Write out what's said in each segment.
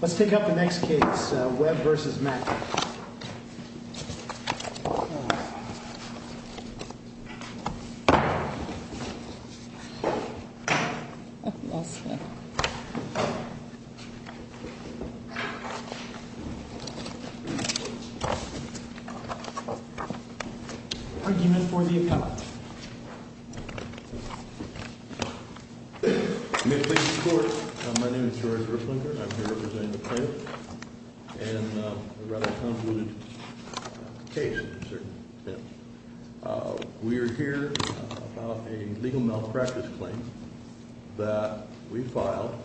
Let's take up the next case, Webb v. Maclin. Argument for the appellate. We are here about a legal malpractice claim that we filed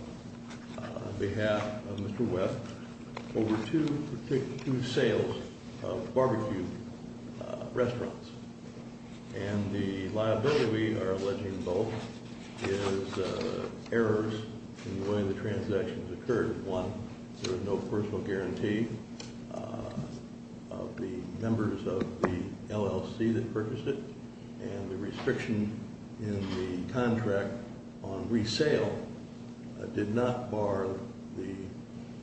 on behalf of Mr. Webb over two sales of barbecue restaurants. And the liability, we are alleging both, is errors in the way the transactions occurred. One, there was no personal guarantee of the members of the LLC that purchased it. And the restriction in the contract on resale did not bar the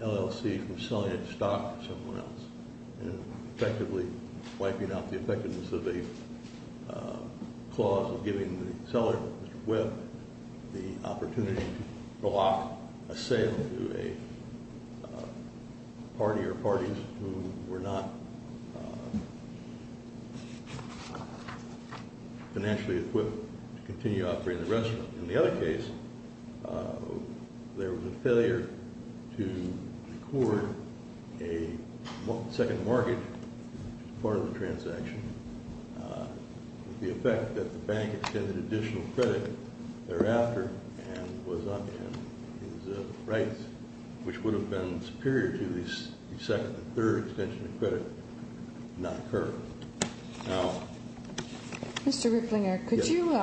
LLC from selling its stock to someone else. Effectively wiping out the effectiveness of a clause of giving the seller, Mr. Webb, the opportunity to block a sale to a party or parties who were not financially equipped to continue operating the restaurant. In the other case, there was a failure to record a second mortgage as part of the transaction. The effect that the bank extended additional credit thereafter and his rights, which would have been superior to the second and third extension of credit, did not occur. Mr. Ripplinger, could you,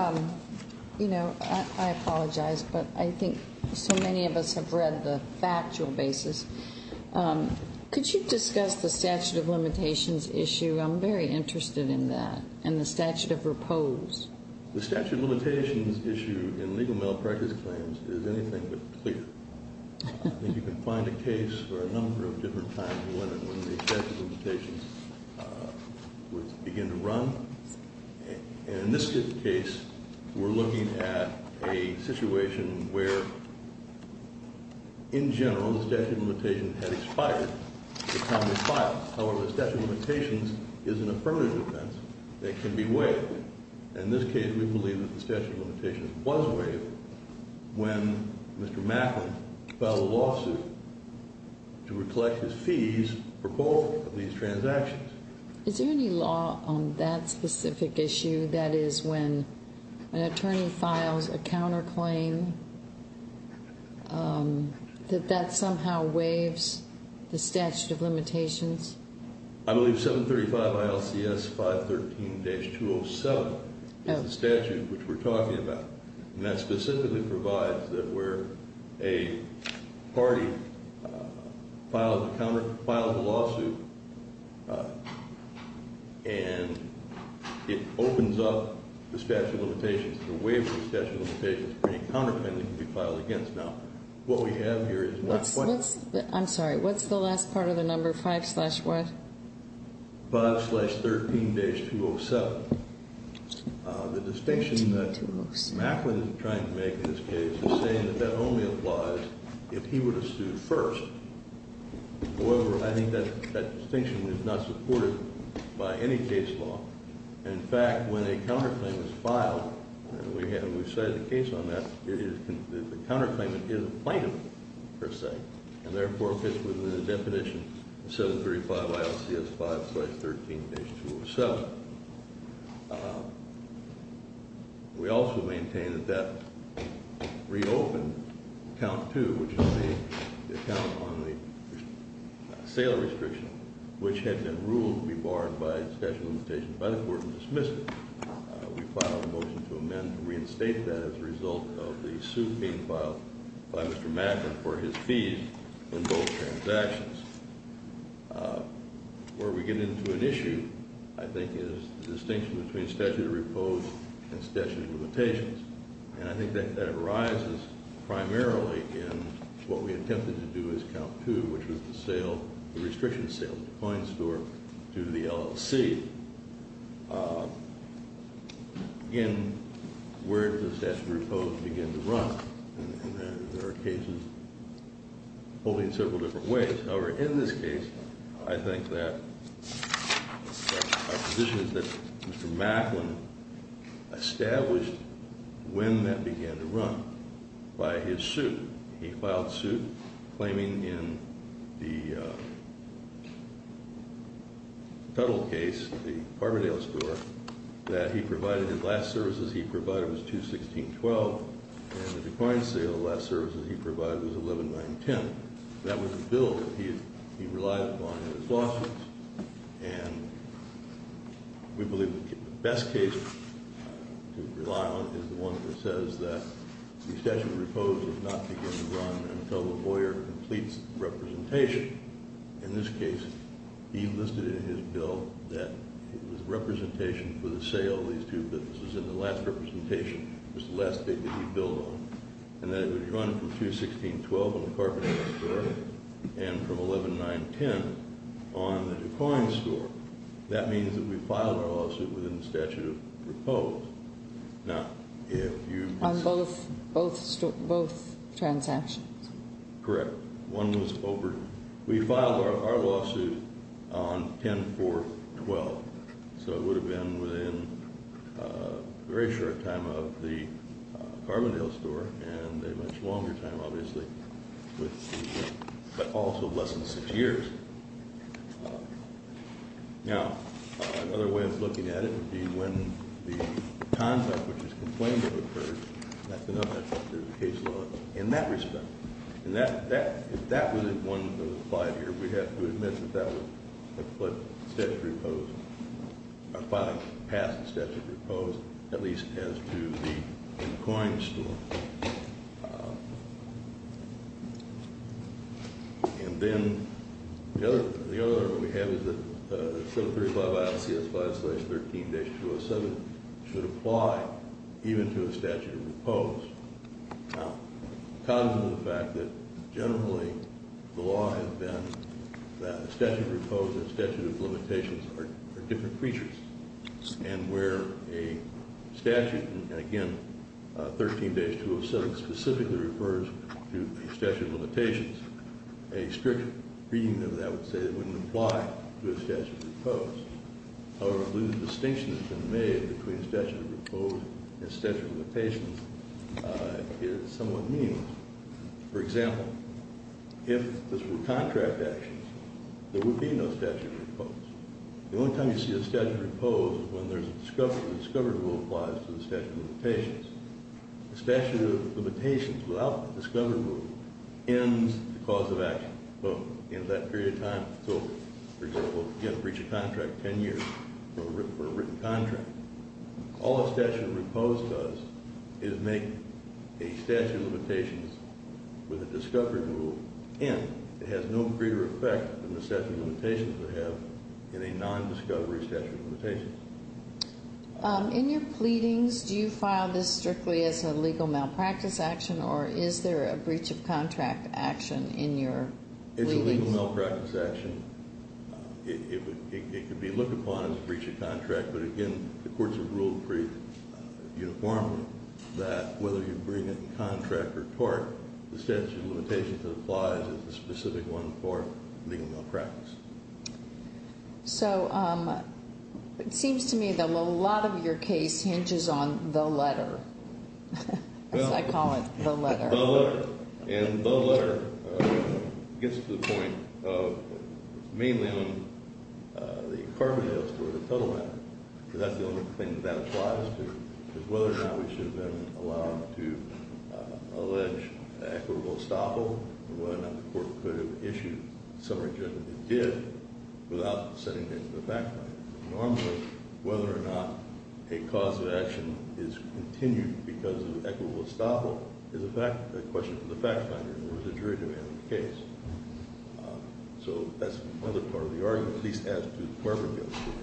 you know, I apologize, but I think so many of us have read the factual basis. Could you discuss the statute of limitations issue? I'm very interested in that and the statute of repose. The statute of limitations issue in legal malpractice claims is anything but clear. I think you can find a case for a number of different times when the statute of limitations would begin to run. And in this case, we're looking at a situation where, in general, the statute of limitations had expired. However, the statute of limitations is an affirmative defense that can be waived. In this case, we believe that the statute of limitations was waived when Mr. Macklin filed a lawsuit to recollect his fees for both of these transactions. Is there any law on that specific issue? That is, when an attorney files a counterclaim, that that somehow waives the statute of limitations? I believe 735 ILCS 513-207 is the statute which we're talking about. And that specifically provides that where a party filed a lawsuit and it opens up the statute of limitations, the waiver of the statute of limitations, any counterclaim that can be filed against. I'm sorry. What's the last part of the number 5 slash what? 5 slash 13-207. The distinction that Macklin is trying to make in this case is saying that that only applies if he were to sue first. However, I think that distinction is not supported by any case law. In fact, when a counterclaim is filed, and we cited a case on that, the counterclaim is not plaintiff, per se, and therefore fits within the definition of 735 ILCS 513-207. We also maintain that that reopened count two, which is the account on the sale restriction, which had been ruled to be barred by statute of limitations by the court and dismissed it. We filed a motion to amend and reinstate that as a result of the suit being filed by Mr. Macklin for his fees in both transactions. Where we get into an issue, I think, is the distinction between statute of repose and statute of limitations, and I think that arises primarily in what we attempted to do as count two, which was the sale, the restriction sale of the coin store to the LLC. Again, where does statute of repose begin to run? And there are cases holding several different ways. However, in this case, I think that our position is that Mr. Macklin established when that began to run by his suit. He filed suit claiming in the Tuttle case, the Carbondale store, that he provided, his last services he provided was 216-12, and the decoying sale, the last services he provided was 119-10. That was a bill that he relied upon in his lawsuits, and we believe the best case to rely on is the one that says that the statute of repose does not begin to run until the lawyer completes the representation. In this case, he listed in his bill that it was representation for the sale of these two businesses, and the last representation was the last thing that he billed on, and that it would run from 216-12 on the Carbondale store, and from 119-10 on the decoying store. That means that we filed our lawsuit within the statute of repose. On both transactions? Correct. One was over. We filed our lawsuit on 10-4-12, so it would have been within a very short time of the Carbondale store, and a much longer time, obviously, but also less than six years. Now, another way of looking at it would be when the contract which is complained of occurs, that's another factor of the case law in that respect. If that was one of the five here, we'd have to admit that that was a foot past the statute of repose, at least as to the decoying store. And then the other one we have is that 735-ISCS-5-13-207 should apply even to a statute of repose. Now, the cons of the fact that generally the law has been that a statute of repose and a statute of limitations are different creatures, and where a statute, and again, 13-207 specifically refers to a statute of limitations, a strict reading of that would say it wouldn't apply to a statute of repose. However, I believe the distinction that's been made between a statute of repose and a statute of limitations is somewhat meaningless. For example, if this were contract actions, there would be no statute of repose. The only time you see a statute of repose is when there's a discovery rule applies to the statute of limitations. A statute of limitations without the discovery rule ends the cause of action in that period of time. So, for example, you have to breach a contract 10 years for a written contract. All a statute of repose does is make a statute of limitations with a discovery rule end. It has no greater effect than the statute of limitations would have in a non-discovery statute of limitations. In your pleadings, do you file this strictly as a legal malpractice action, or is there a breach of contract action in your pleadings? It's a legal malpractice action. It could be looked upon as a breach of contract, but again, the courts have ruled pretty uniformly that whether you bring it in contract or tort, the statute of limitations that applies is the specific one for legal malpractice. So it seems to me that a lot of your case hinges on the letter. I call it the letter. The letter. And the letter gets to the point of mainly on the affirmative or the total matter. Because that's the only thing that applies to, is whether or not we should have been allowed to allege equitable estoppel, and whether or not the court could have issued a summary judgment it did without sending it to the fact finder. Normally, whether or not a cause of action is continued because of equitable estoppel is a question for the fact finder or the jury to handle the case. So that's another part of the argument. At least as to the Department of Justice.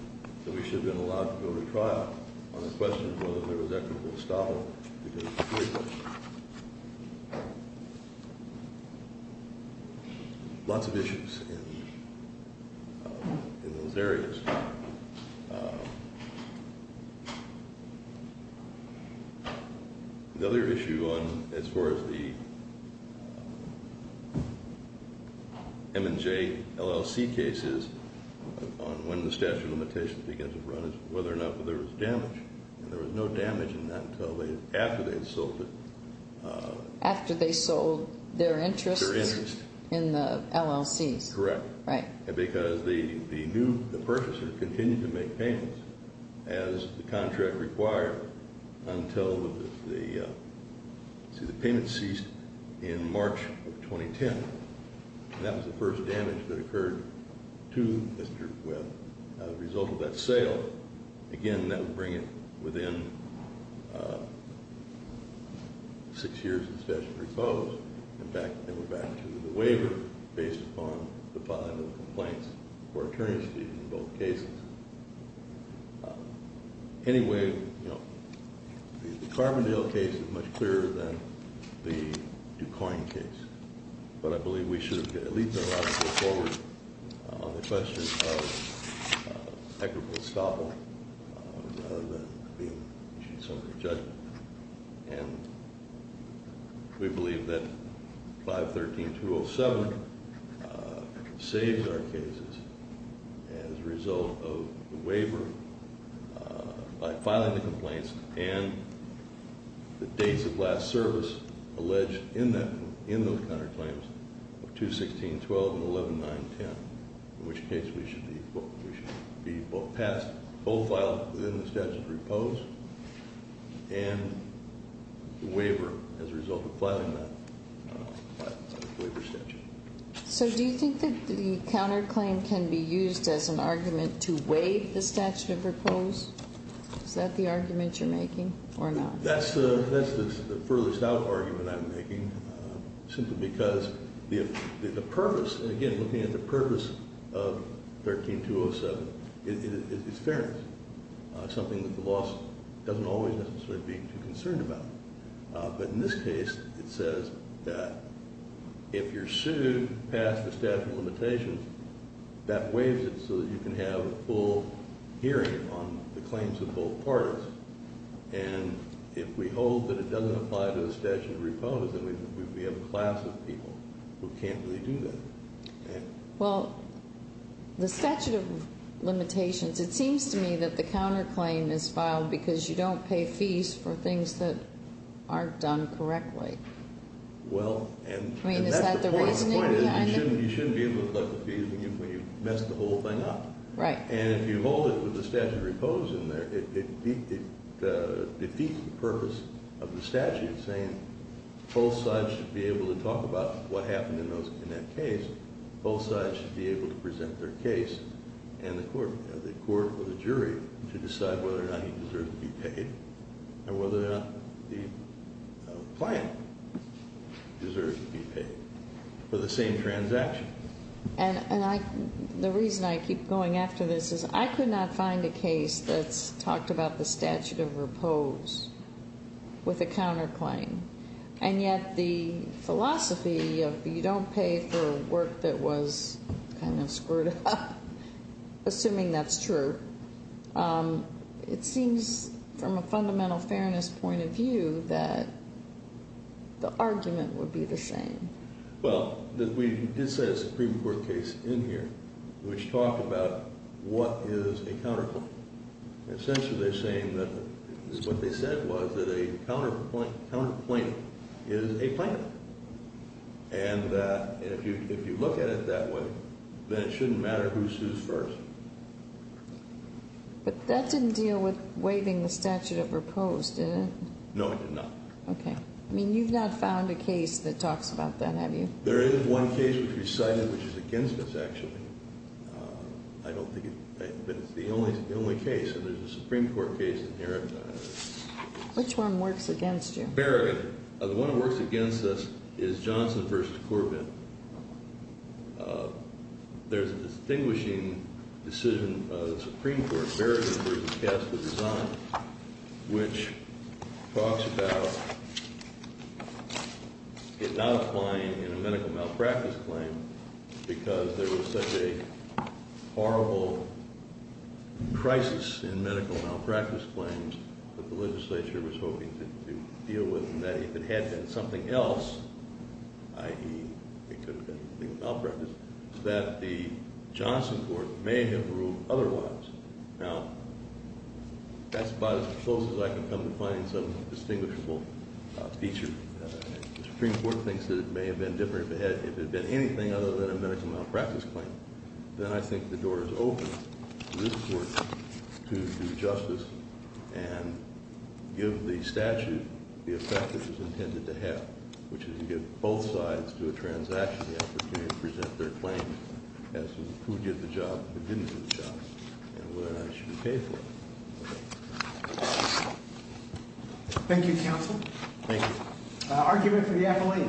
That we should have been allowed to go to trial on the question of whether there was equitable estoppel. Lots of issues in those areas. The other issue as far as the M&J, LLC cases on when the statute of limitations begins to run is whether or not there was damage. And there was no damage in that until after they had sold it. After they sold their interest in the LLCs. Correct. As the contract required until the payment ceased in March of 2010. That was the first damage that occurred to Mr. Webb as a result of that sale. Again, that would bring it within six years of the statute of limitations. In fact, they were back to the waiver based upon the filing of complaints for attorney's fees in both cases. Anyway, the Carbondale case is much clearer than the Du Quoin case. But I believe we should have at least been allowed to go forward on the question of equitable estoppel rather than issuing a summary judgment. And we believe that 513-207 saves our cases as a result of the waiver by filing the complaints. And the dates of last service alleged in those counterclaims of 216-12 and 119-10. In which case we should be both passed, both filed within the statute of repose. And the waiver as a result of filing that waiver statute. So do you think that the counterclaim can be used as an argument to waive the statute of repose? Is that the argument you're making or not? Simply because the purpose, again, looking at the purpose of 13-207 is fairness. Something that the law doesn't always necessarily be too concerned about. But in this case, it says that if you're sued past the statute of limitations, that waives it so that you can have a full hearing on the claims of both parties. And if we hold that it doesn't apply to the statute of repose, then we have a class of people who can't really do that. Well, the statute of limitations, it seems to me that the counterclaim is filed because you don't pay fees for things that aren't done correctly. Well, and that's the point. The point is you shouldn't be able to collect the fees when you've messed the whole thing up. Right. And if you hold it with the statute of repose in there, it defeats the purpose of the statute, saying both sides should be able to talk about what happened in that case. Both sides should be able to present their case and the court or the jury to decide whether or not he deserves to be paid and whether or not the client deserves to be paid for the same transaction. And the reason I keep going after this is I could not find a case that's talked about the statute of repose with a counterclaim. And yet the philosophy of you don't pay for work that was kind of screwed up, assuming that's true, it seems from a fundamental fairness point of view that the argument would be the same. Well, we did set a Supreme Court case in here which talked about what is a counterclaim. Essentially they're saying that what they said was that a counterclaim is a claim. And if you look at it that way, then it shouldn't matter who sues first. But that didn't deal with waiving the statute of repose, did it? No, it did not. Okay. I mean, you've not found a case that talks about that, have you? There is one case which we cited which is against us, actually. I don't think it's the only case. There's a Supreme Court case in here. Which one works against you? Berrigan. The one that works against us is Johnson v. Corbin. There's a distinguishing decision of the Supreme Court, Berrigan v. Casper Design, which talks about it not applying in a medical malpractice claim because there was such a horrible crisis in medical malpractice claims that the legislature was hoping to deal with and that if it had been something else, i.e. it could have been a medical malpractice, that the Johnson court may have ruled otherwise. Now, that's about as close as I can come to finding some distinguishable feature. The Supreme Court thinks that it may have been different if it had been anything other than a medical malpractice claim. Then I think the door is open to this court to do justice and give the statute the effect it was intended to have, which is to give both sides to a transaction the opportunity to present their claims as to who did the job and who didn't do the job, and whether or not it should be paid for. Thank you, counsel. Thank you. Argument for the appellate.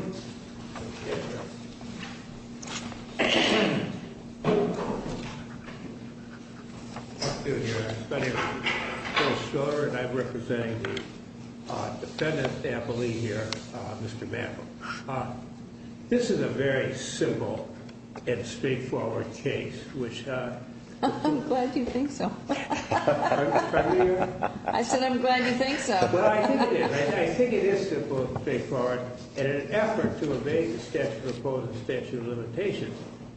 I'm representing the defendant appellee here, Mr. Mapple. This is a very simple and straightforward case. I'm glad you think so. Pardon me, Your Honor? I said I'm glad you think so. I think it is simple and straightforward. In an effort to evade the statute of limitations,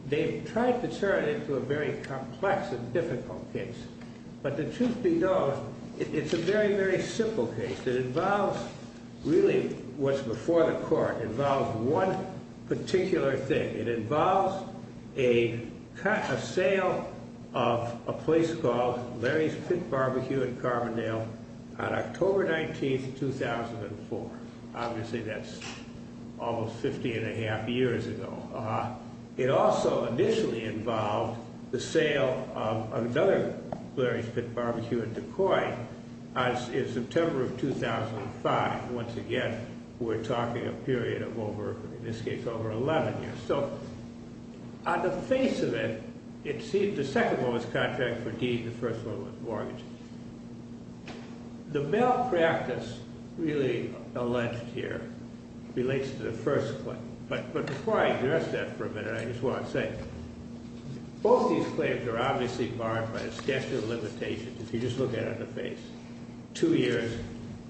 they've tried to turn it into a very complex and difficult case. But the truth be told, it's a very, very simple case. It involves really what's before the court. It involves one particular thing. It involves a sale of a place called Larry's Pit Barbecue in Carbondale on October 19, 2004. Obviously, that's almost 50 and a half years ago. It also initially involved the sale of another Larry's Pit Barbecue in Des Moines in September of 2005. Once again, we're talking a period of over, in this case, over 11 years. So on the face of it, it seems the second one was contract for deed and the first one was mortgage. The malpractice really alleged here relates to the first claim. But before I address that for a minute, I just want to say, both these claims are obviously barred by the statute of limitations, if you just look at it on the face. Two years,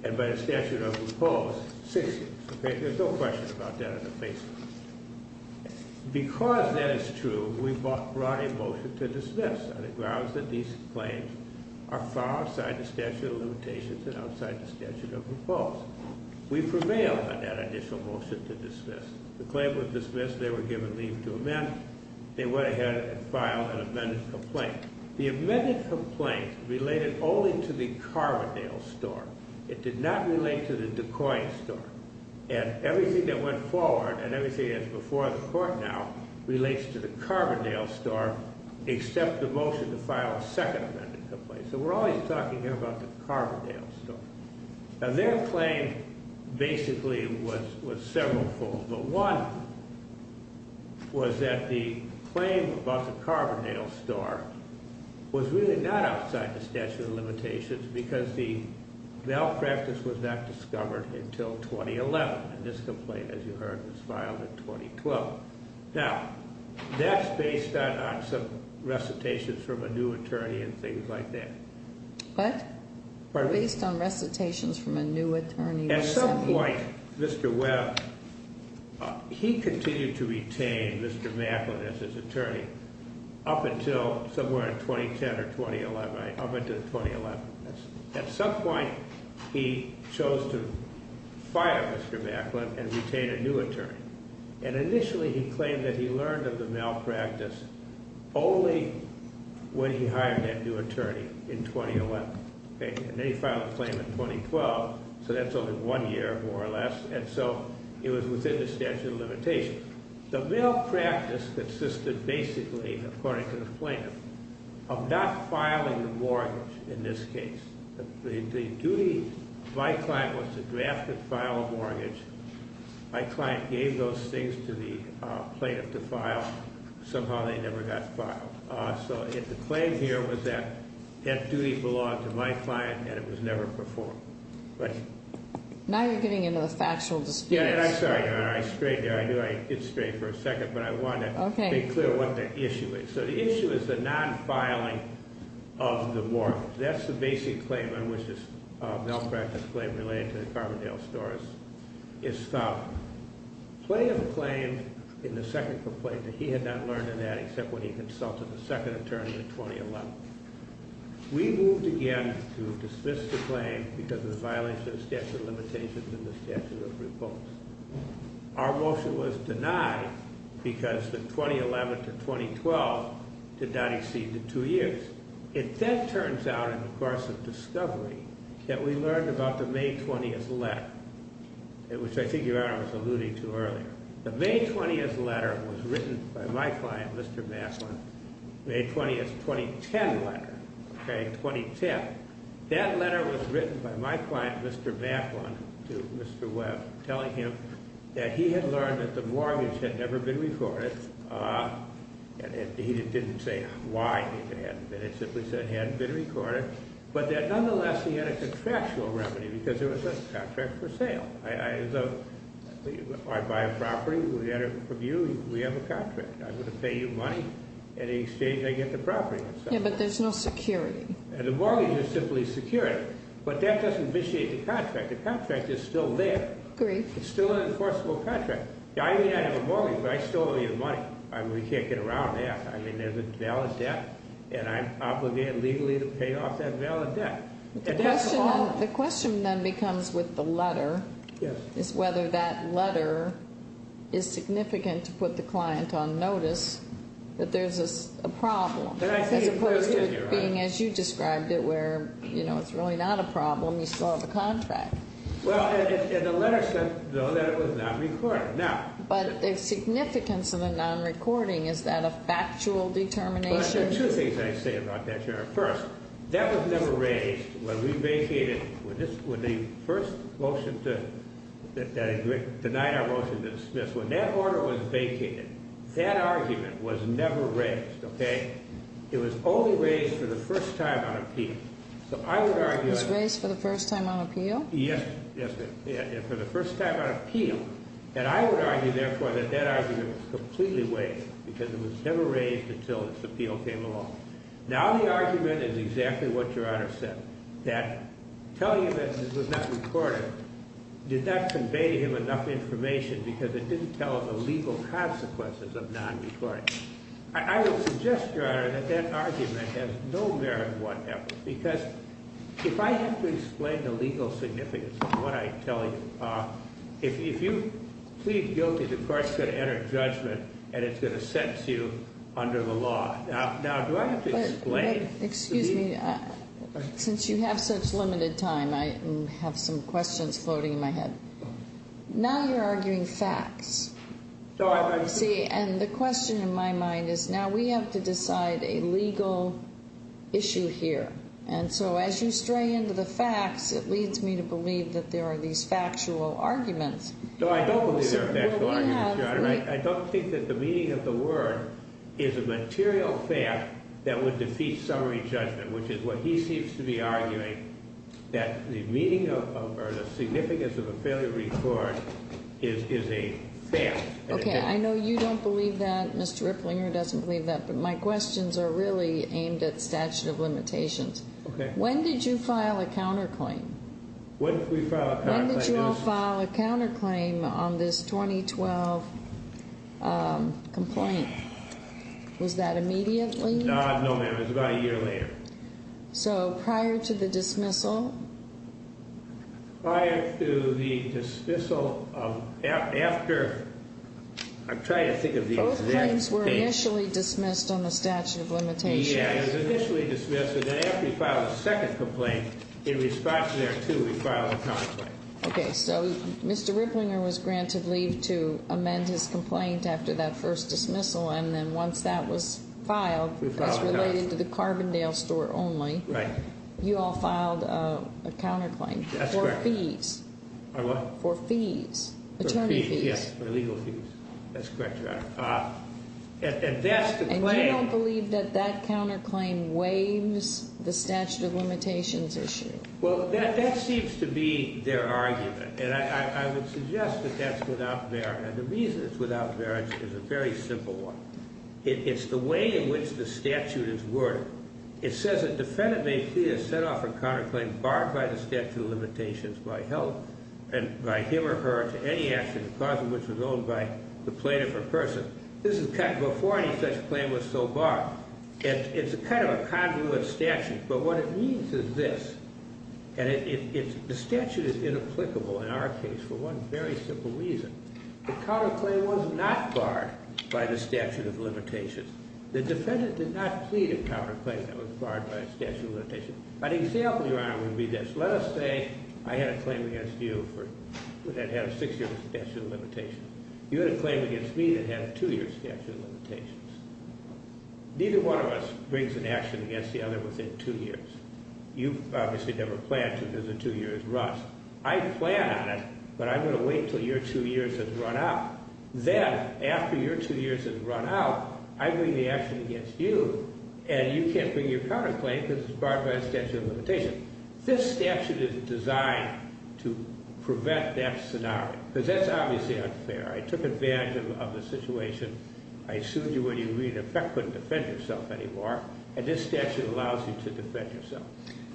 and by the statute of limitations, six years. There's no question about that on the face of it. Because that is true, we brought a motion to dismiss on the grounds that these claims are far outside the statute of limitations and outside the statute of proposals. We prevailed on that additional motion to dismiss. The claim was dismissed. They were given leave to amend. They went ahead and filed an amended complaint. The amended complaint related only to the Carbondale store. It did not relate to the Des Moines store. And everything that went forward, and everything that's before the court now, relates to the Carbondale store, except the motion to file a second amended complaint. So we're always talking here about the Carbondale store. Now, their claim basically was several folds. But one was that the claim about the Carbondale store was really not outside the statute of limitations because the malpractice was not discovered until 2011. And this complaint, as you heard, was filed in 2012. Now, that's based on some recitations from a new attorney and things like that. What? Based on recitations from a new attorney. At some point, Mr. Webb, he continued to retain Mr. Macklin as his attorney up until somewhere in 2010 or 2011, up until 2011. At some point, he chose to fire Mr. Macklin and retain a new attorney. And initially, he claimed that he learned of the malpractice only when he hired that new attorney in 2011. And then he filed a claim in 2012. So that's only one year, more or less. And so it was within the statute of limitations. The malpractice consisted basically, according to the plaintiff, of not filing a mortgage in this case. My client was to draft and file a mortgage. My client gave those things to the plaintiff to file. Somehow, they never got filed. So the claim here was that that duty belonged to my client and it was never performed. Right? Now you're getting into the factual dispute. Yeah, and I'm sorry. I strayed there. I knew I did stray for a second, but I wanted to make clear what the issue is. So the issue is the non-filing of the mortgage. That's the basic claim on which this malpractice claim related to the Carbondale stores is filed. Plenty of the claims in the second complaint that he had not learned of that except when he consulted the second attorney in 2011. We moved again to dismiss the claim because of the violations of the statute of limitations and the statute of repose. Our motion was denied because the 2011 to 2012 did not exceed the two years. It then turns out in the course of discovery that we learned about the May 20th letter, which I think your Honor was alluding to earlier. The May 20th letter was written by my client, Mr. Mathlin, May 20th, 2010 letter, okay, 2010. That letter was written by my client, Mr. Mathlin, to Mr. Webb, telling him that he had learned that the mortgage had never been recorded. And he didn't say why it hadn't been. It simply said it hadn't been recorded. But that nonetheless, he had a contractual remedy because there was a contract for sale. I buy a property. We enter from you. We have a contract. I'm going to pay you money. In exchange, I get the property. Yeah, but there's no security. The mortgage is simply secured. But that doesn't vitiate the contract. The contract is still there. It's still an enforceable contract. I may not have a mortgage, but I still owe you the money. We can't get around that. I mean, there's a valid debt, and I'm obligated legally to pay off that valid debt. The question then becomes with the letter is whether that letter is significant to put the client on notice that there's a problem. As opposed to it being, as you described it, where, you know, it's really not a problem, you still have a contract. Well, and the letter said, though, that it was not recorded. But the significance of the non-recording, is that a factual determination? There are two things I say about that, Sharon. First, that was never raised when we vacated, when the first motion to deny our motion to dismiss, when that order was vacated, that argument was never raised, okay? It was only raised for the first time on appeal. It was raised for the first time on appeal? Yes, yes, ma'am. For the first time on appeal. And I would argue, therefore, that that argument was completely wasted, because it was never raised until this appeal came along. Now the argument is exactly what Your Honor said, that telling him that this was not recorded did not convey to him enough information, because it didn't tell him the legal consequences of non-recording. I will suggest, Your Honor, that that argument has no merit whatsoever, because if I have to explain the legal significance of what I tell you, if you plead guilty, the court's going to enter judgment and it's going to sentence you under the law. Now, do I have to explain? Excuse me. Since you have such limited time, I have some questions floating in my head. Now you're arguing facts. See, and the question in my mind is, now we have to decide a legal issue here. And so as you stray into the facts, it leads me to believe that there are these factual arguments. No, I don't believe there are factual arguments, Your Honor. Okay, I know you don't believe that. Mr. Ripplinger doesn't believe that. But my questions are really aimed at statute of limitations. Okay. When did you file a counterclaim? When did we file a counterclaim? When did you all file a counterclaim on this 2012 complaint? Was that immediately? No, ma'am. It was about a year later. So prior to the dismissal? Prior to the dismissal of after. I'm trying to think of the exact date. Both claims were initially dismissed on the statute of limitations. Yeah, it was initially dismissed. And then after we filed a second complaint, in response to that, too, we filed a counterclaim. Okay, so Mr. Ripplinger was granted leave to amend his complaint after that first dismissal. And then once that was filed, it was related to the Carbondale store only. Right. You all filed a counterclaim. That's correct. For fees. For what? For fees. Attorney fees. Yes, for legal fees. That's correct, Your Honor. And that's the claim. And you don't believe that that counterclaim waives the statute of limitations issue? Well, that seems to be their argument. And I would suggest that that's without merit. And the reason it's without merit is a very simple one. It's the way in which the statute is worded. It says a defendant may plead or set off a counterclaim barred by the statute of limitations by health and by him or her to any action, the cause of which was owned by the plaintiff or person. This is before any such claim was so barred. And it's kind of a convoluted statute. But what it means is this. And the statute is inapplicable in our case for one very simple reason. The defendant did not plead a counterclaim that was barred by a statute of limitations. An example, Your Honor, would be this. Let us say I had a claim against you that had a six-year statute of limitations. You had a claim against me that had a two-year statute of limitations. Neither one of us brings an action against the other within two years. You've obviously never planned to visit two years rust. I plan on it, but I'm going to wait until your two years has run out. Then, after your two years has run out, I bring the action against you, and you can't bring your counterclaim because it's barred by a statute of limitations. This statute is designed to prevent that scenario because that's obviously unfair. I took advantage of the situation. I sued you when you agreed to defend yourself anymore, and this statute allows you to defend yourself.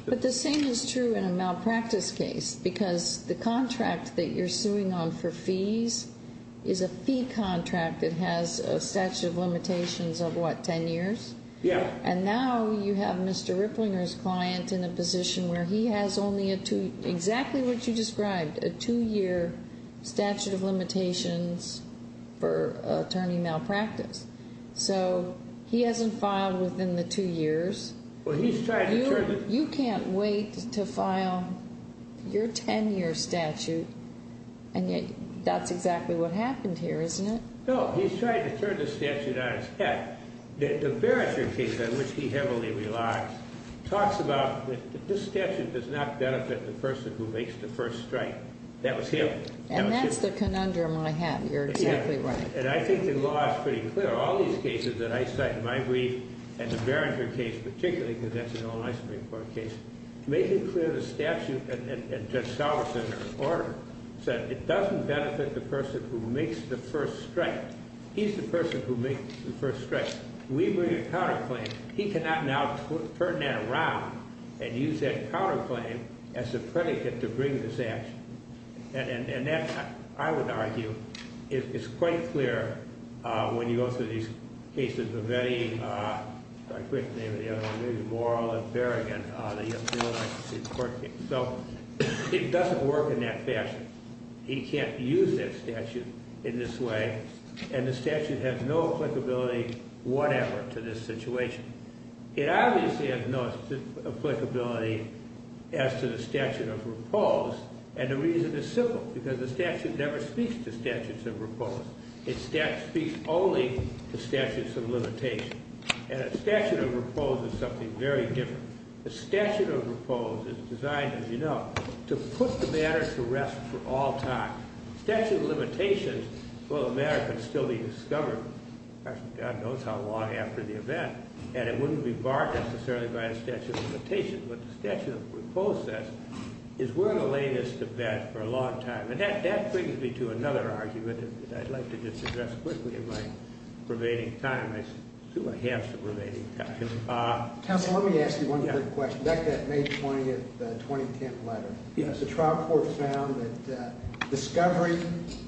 But the same is true in a malpractice case because the contract that you're suing on for fees is a fee contract that has a statute of limitations of, what, ten years? Yes. And now you have Mr. Ripplinger's client in a position where he has only a two— exactly what you described, a two-year statute of limitations for attorney malpractice. So he hasn't filed within the two years. Well, he's trying to turn the— You can't wait to file your ten-year statute, and yet that's exactly what happened here, isn't it? No. He's trying to turn the statute on its head. The Barringer case, on which he heavily relies, talks about this statute does not benefit the person who makes the first strike. That was him. And that's the conundrum I have. You're exactly right. And I think the law is pretty clear. All these cases that I cite in my brief, and the Barringer case particularly because that's an Illinois Supreme Court case, make it clear the statute and Judge Salveson's order said it doesn't benefit the person who makes the first strike. He's the person who makes the first strike. We bring a counterclaim. He cannot now turn that around and use that counterclaim as a predicate to bring this action. And that, I would argue, is quite clear when you go through these cases of any—I forget the name of the other one. Maybe Morrill and Barringer, the Illinois Supreme Court case. So it doesn't work in that fashion. He can't use that statute in this way, and the statute has no applicability whatever to this situation. It obviously has no applicability as to the statute of repose, and the reason is simple, because the statute never speaks to statutes of repose. It speaks only to statutes of limitation. And a statute of repose is something very different. A statute of repose is designed, as you know, to put the matter to rest for all time. Statute of limitation, well, the matter can still be discovered. God knows how long after the event, and it wouldn't be barred necessarily by a statute of limitation, but the statute of repose says, is we're going to lay this to rest for a long time. And that brings me to another argument that I'd like to just address quickly in my remaining time. I assume I have some remaining time. Counsel, let me ask you one quick question. Back to that May 20, 2010 letter. Yes. The trial court found that discovery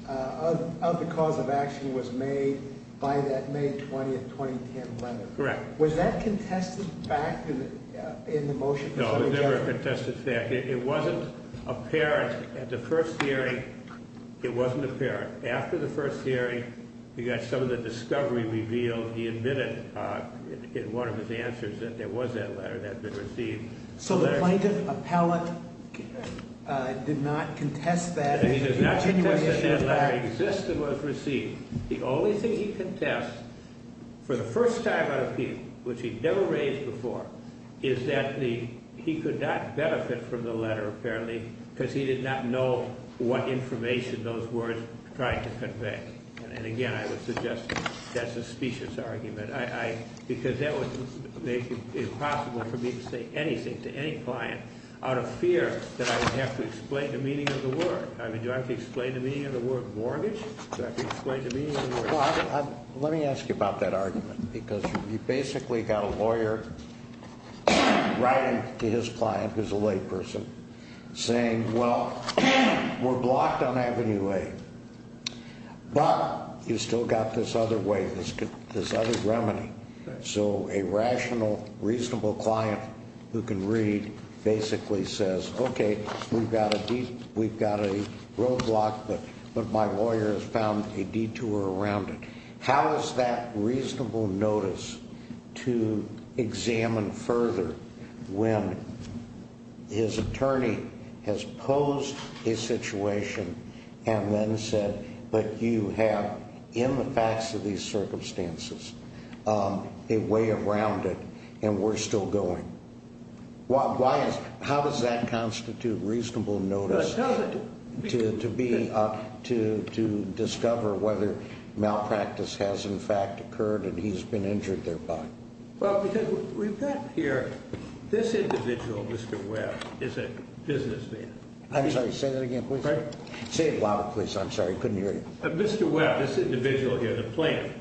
of the cause of action was made by that May 20, 2010 letter. Correct. Was that contested fact in the motion? No, it was never a contested fact. It wasn't apparent at the first hearing. It wasn't apparent. After the first hearing, you got some of the discovery revealed. He admitted in one of his answers that there was that letter that had been received. So the plaintiff appellate did not contest that genuine issue? He does not contest that that letter exists and was received. The only thing he contests, for the first time on appeal, which he'd never raised before, is that he could not benefit from the letter apparently because he did not know what information those words tried to convey. And, again, I would suggest that's a specious argument. Because that would make it impossible for me to say anything to any client out of fear that I would have to explain the meaning of the word. I mean, do I have to explain the meaning of the word mortgage? Do I have to explain the meaning of the word mortgage? Let me ask you about that argument because you basically got a lawyer writing to his client, who's a layperson, saying, well, we're blocked on Avenue A. But you've still got this other way, this other remedy. So a rational, reasonable client who can read basically says, okay, we've got a roadblock, but my lawyer has found a detour around it. How is that reasonable notice to examine further when his attorney has posed a situation and then said, but you have, in the facts of these circumstances, a way around it and we're still going? How does that constitute reasonable notice to discover whether malpractice has, in fact, occurred and he's been injured thereby? Well, because we've got here this individual, Mr. Webb, is a businessman. I'm sorry. Say that again, please. Say it louder, please. I'm sorry. I couldn't hear you. Mr. Webb, this individual here, the plaintiff,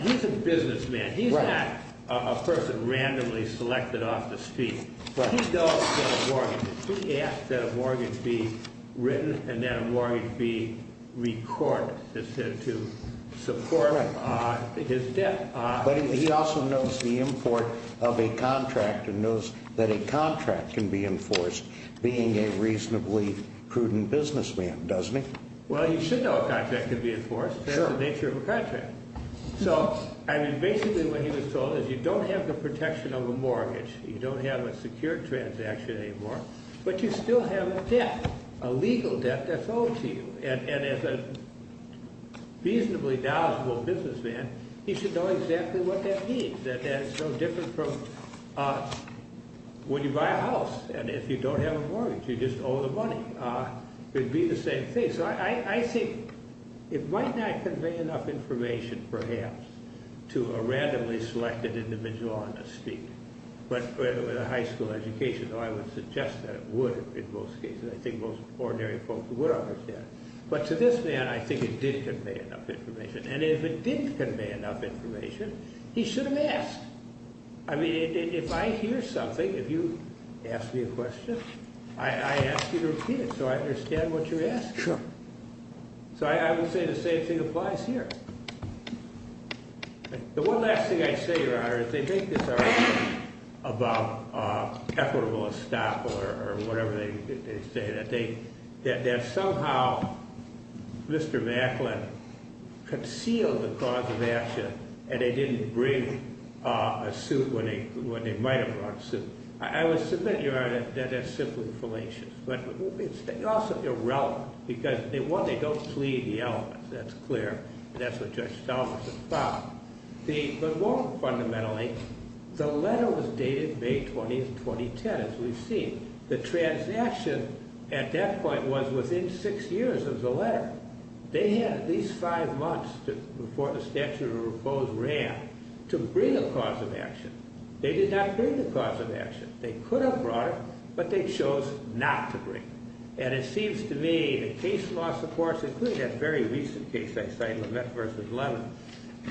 he's a businessman. He's not a person randomly selected off the street. He knows that a mortgage, he asks that a mortgage be written and that a mortgage be recorded to support his debt. But he also knows the import of a contract and knows that a contract can be enforced being a reasonably prudent businessman, doesn't he? Well, you should know a contract can be enforced. That's the nature of a contract. So, I mean, basically what he was told is you don't have the protection of a mortgage, you don't have a secure transaction anymore, but you still have a debt, a legal debt that's owed to you. And as a reasonably knowledgeable businessman, he should know exactly what that means. That it's no different from when you buy a house and if you don't have a mortgage, you just owe the money. It would be the same thing. I think it might not convey enough information, perhaps, to a randomly selected individual on the street. But with a high school education, I would suggest that it would in most cases. I think most ordinary folks would understand. But to this man, I think it did convey enough information. And if it didn't convey enough information, he should have asked. I mean, if I hear something, if you ask me a question, I ask you to repeat it so I understand what you're asking. Sure. So I would say the same thing applies here. The one last thing I'd say, Your Honor, is they make this argument about equitable estoppel or whatever they say. That somehow Mr. Macklin concealed the cause of action and they didn't bring a suit when they might have brought a suit. I would submit, Your Honor, that that's simply fallacious. But it's also irrelevant. Because, one, they don't plead the elements. That's clear. That's what Judge Stalvus has found. But more fundamentally, the letter was dated May 20th, 2010, as we've seen. The transaction at that point was within six years of the letter. They had at least five months before the statute of repose ran to bring a cause of action. They did not bring the cause of action. They could have brought it, but they chose not to bring it. And it seems to me the case law supports it, including that very recent case I cite, Lament v. Lemon.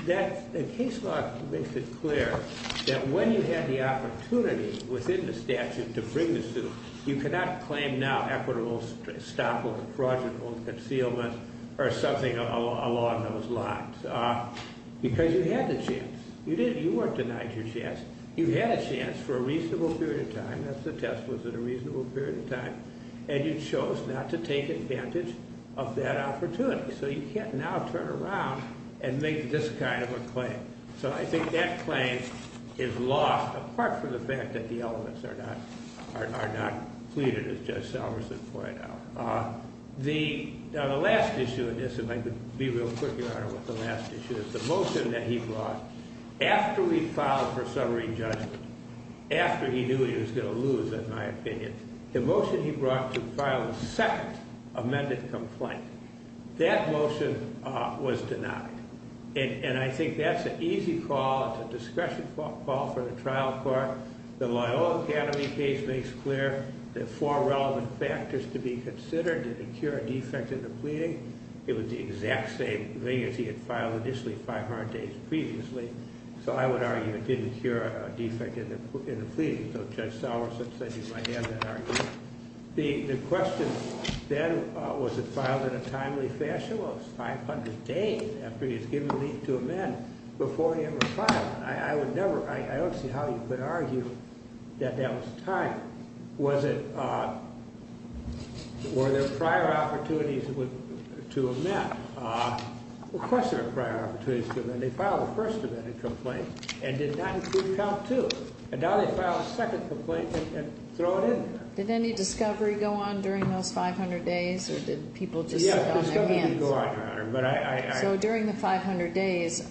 The case law makes it clear that when you had the opportunity within the statute to bring the suit, you cannot claim now equitable estoppel or fraudulent concealment or something along those lines. Because you had the chance. You weren't denied your chance. You had a chance for a reasonable period of time. The test was at a reasonable period of time. And you chose not to take advantage of that opportunity. So you can't now turn around and make this kind of a claim. So I think that claim is lost, apart from the fact that the elements are not pleaded, as Judge Salverson pointed out. The last issue in this, if I could be real quick, Your Honor, with the last issue is the motion that he brought after we filed for summary judgment, after he knew he was going to lose, in my opinion. The motion he brought to file a second amended complaint. That motion was denied. And I think that's an easy call. It's a discretion call for the trial court. The Loyola Academy case makes clear the four relevant factors to be considered. Did it cure a defect in the pleading? It was the exact same thing as he had filed initially 500 days previously. So I would argue it didn't cure a defect in the pleading. So Judge Salverson said he might have that argument. The question then, was it filed in a timely fashion? Well, it was 500 days after he was given the leave to amend before he ever filed. I would never – I don't see how you could argue that that was timed. Was it – were there prior opportunities to amend? Of course there were prior opportunities to amend. They filed a first amended complaint and did not include count two. And now they filed a second complaint and throw it in there. Did any discovery go on during those 500 days or did people just sit on their hands? Yeah, discovery did go on, Your Honor. So during the 500 days,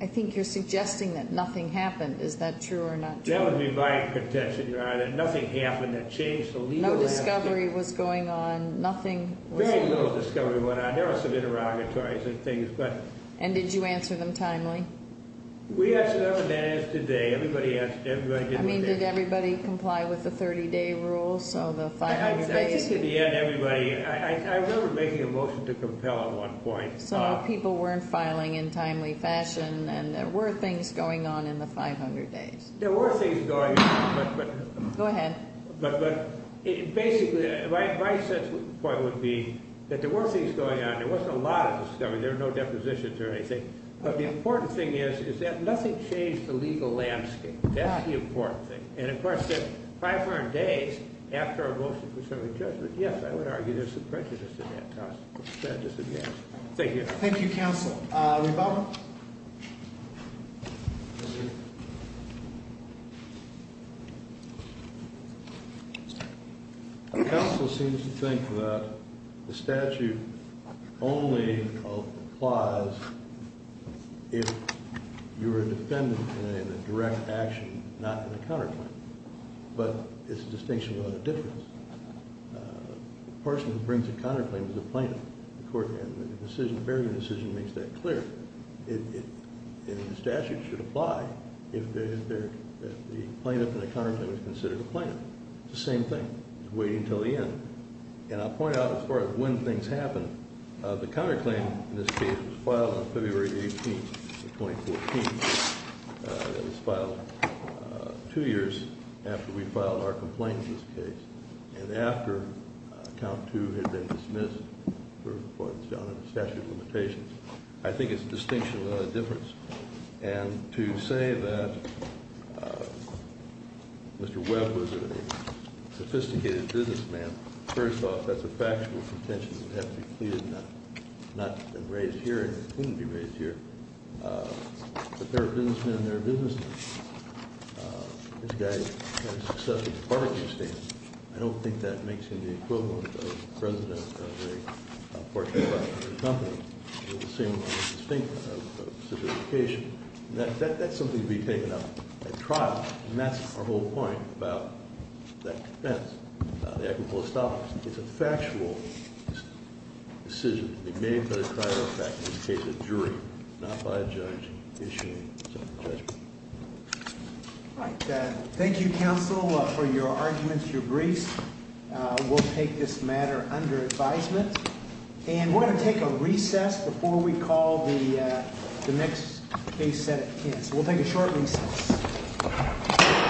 I think you're suggesting that nothing happened. Is that true or not true? That would be my contention, Your Honor, that nothing happened that changed the legal aspect. No discovery was going on, nothing was – Very little discovery went on. There were some interrogatories and things, but – And did you answer them timely? We answered them as today. Everybody did what they – I mean, did everybody comply with the 30-day rule? So the 500 days – I remember making a motion to compel at one point. So people weren't filing in timely fashion and there were things going on in the 500 days. There were things going on, but – Go ahead. But basically my point would be that there were things going on. There wasn't a lot of discovery. There were no depositions or anything. But the important thing is, is that nothing changed the legal landscape. That's the important thing. And, of course, that 500 days after a motion for some adjustment, yes, I would argue there's some prejudice in that. Thank you, Your Honor. Thank you, counsel. Reba? Counsel seems to think that the statute only applies if you're a defendant in a direct action, not in a counterclaim. But it's a distinction without a difference. The person who brings a counterclaim is the plaintiff, the court. And the decision – the Bergen decision makes that clear. And the statute should apply if the plaintiff in a counterclaim is considered a plaintiff. It's the same thing. It's waiting until the end. And I'll point out, as far as when things happen, the counterclaim in this case was filed on February 18th of 2014. It was filed two years after we filed our complaint in this case. And after count two had been dismissed for what is now the statute of limitations. I think it's a distinction without a difference. And to say that Mr. Webb was a sophisticated businessman, first off, that's a factual contention that has to be cleared now. Not to have been raised here and couldn't be raised here. But there are businessmen and there are businessmen. This guy had a successful barbecue stand. I don't think that makes him the equivalent of president of a pork and butter company. It's the same distinction of sophistication. And that's something to be taken up at trial. And that's our whole point about that defense, the act of holostomics. It's a factual decision to be made by the trial effect in the case of jury, not by a judge issuing a judgment. All right. Thank you, counsel, for your arguments, your briefs. We'll take this matter under advisement. And we're going to take a recess before we call the next case set at 10. So we'll take a short recess.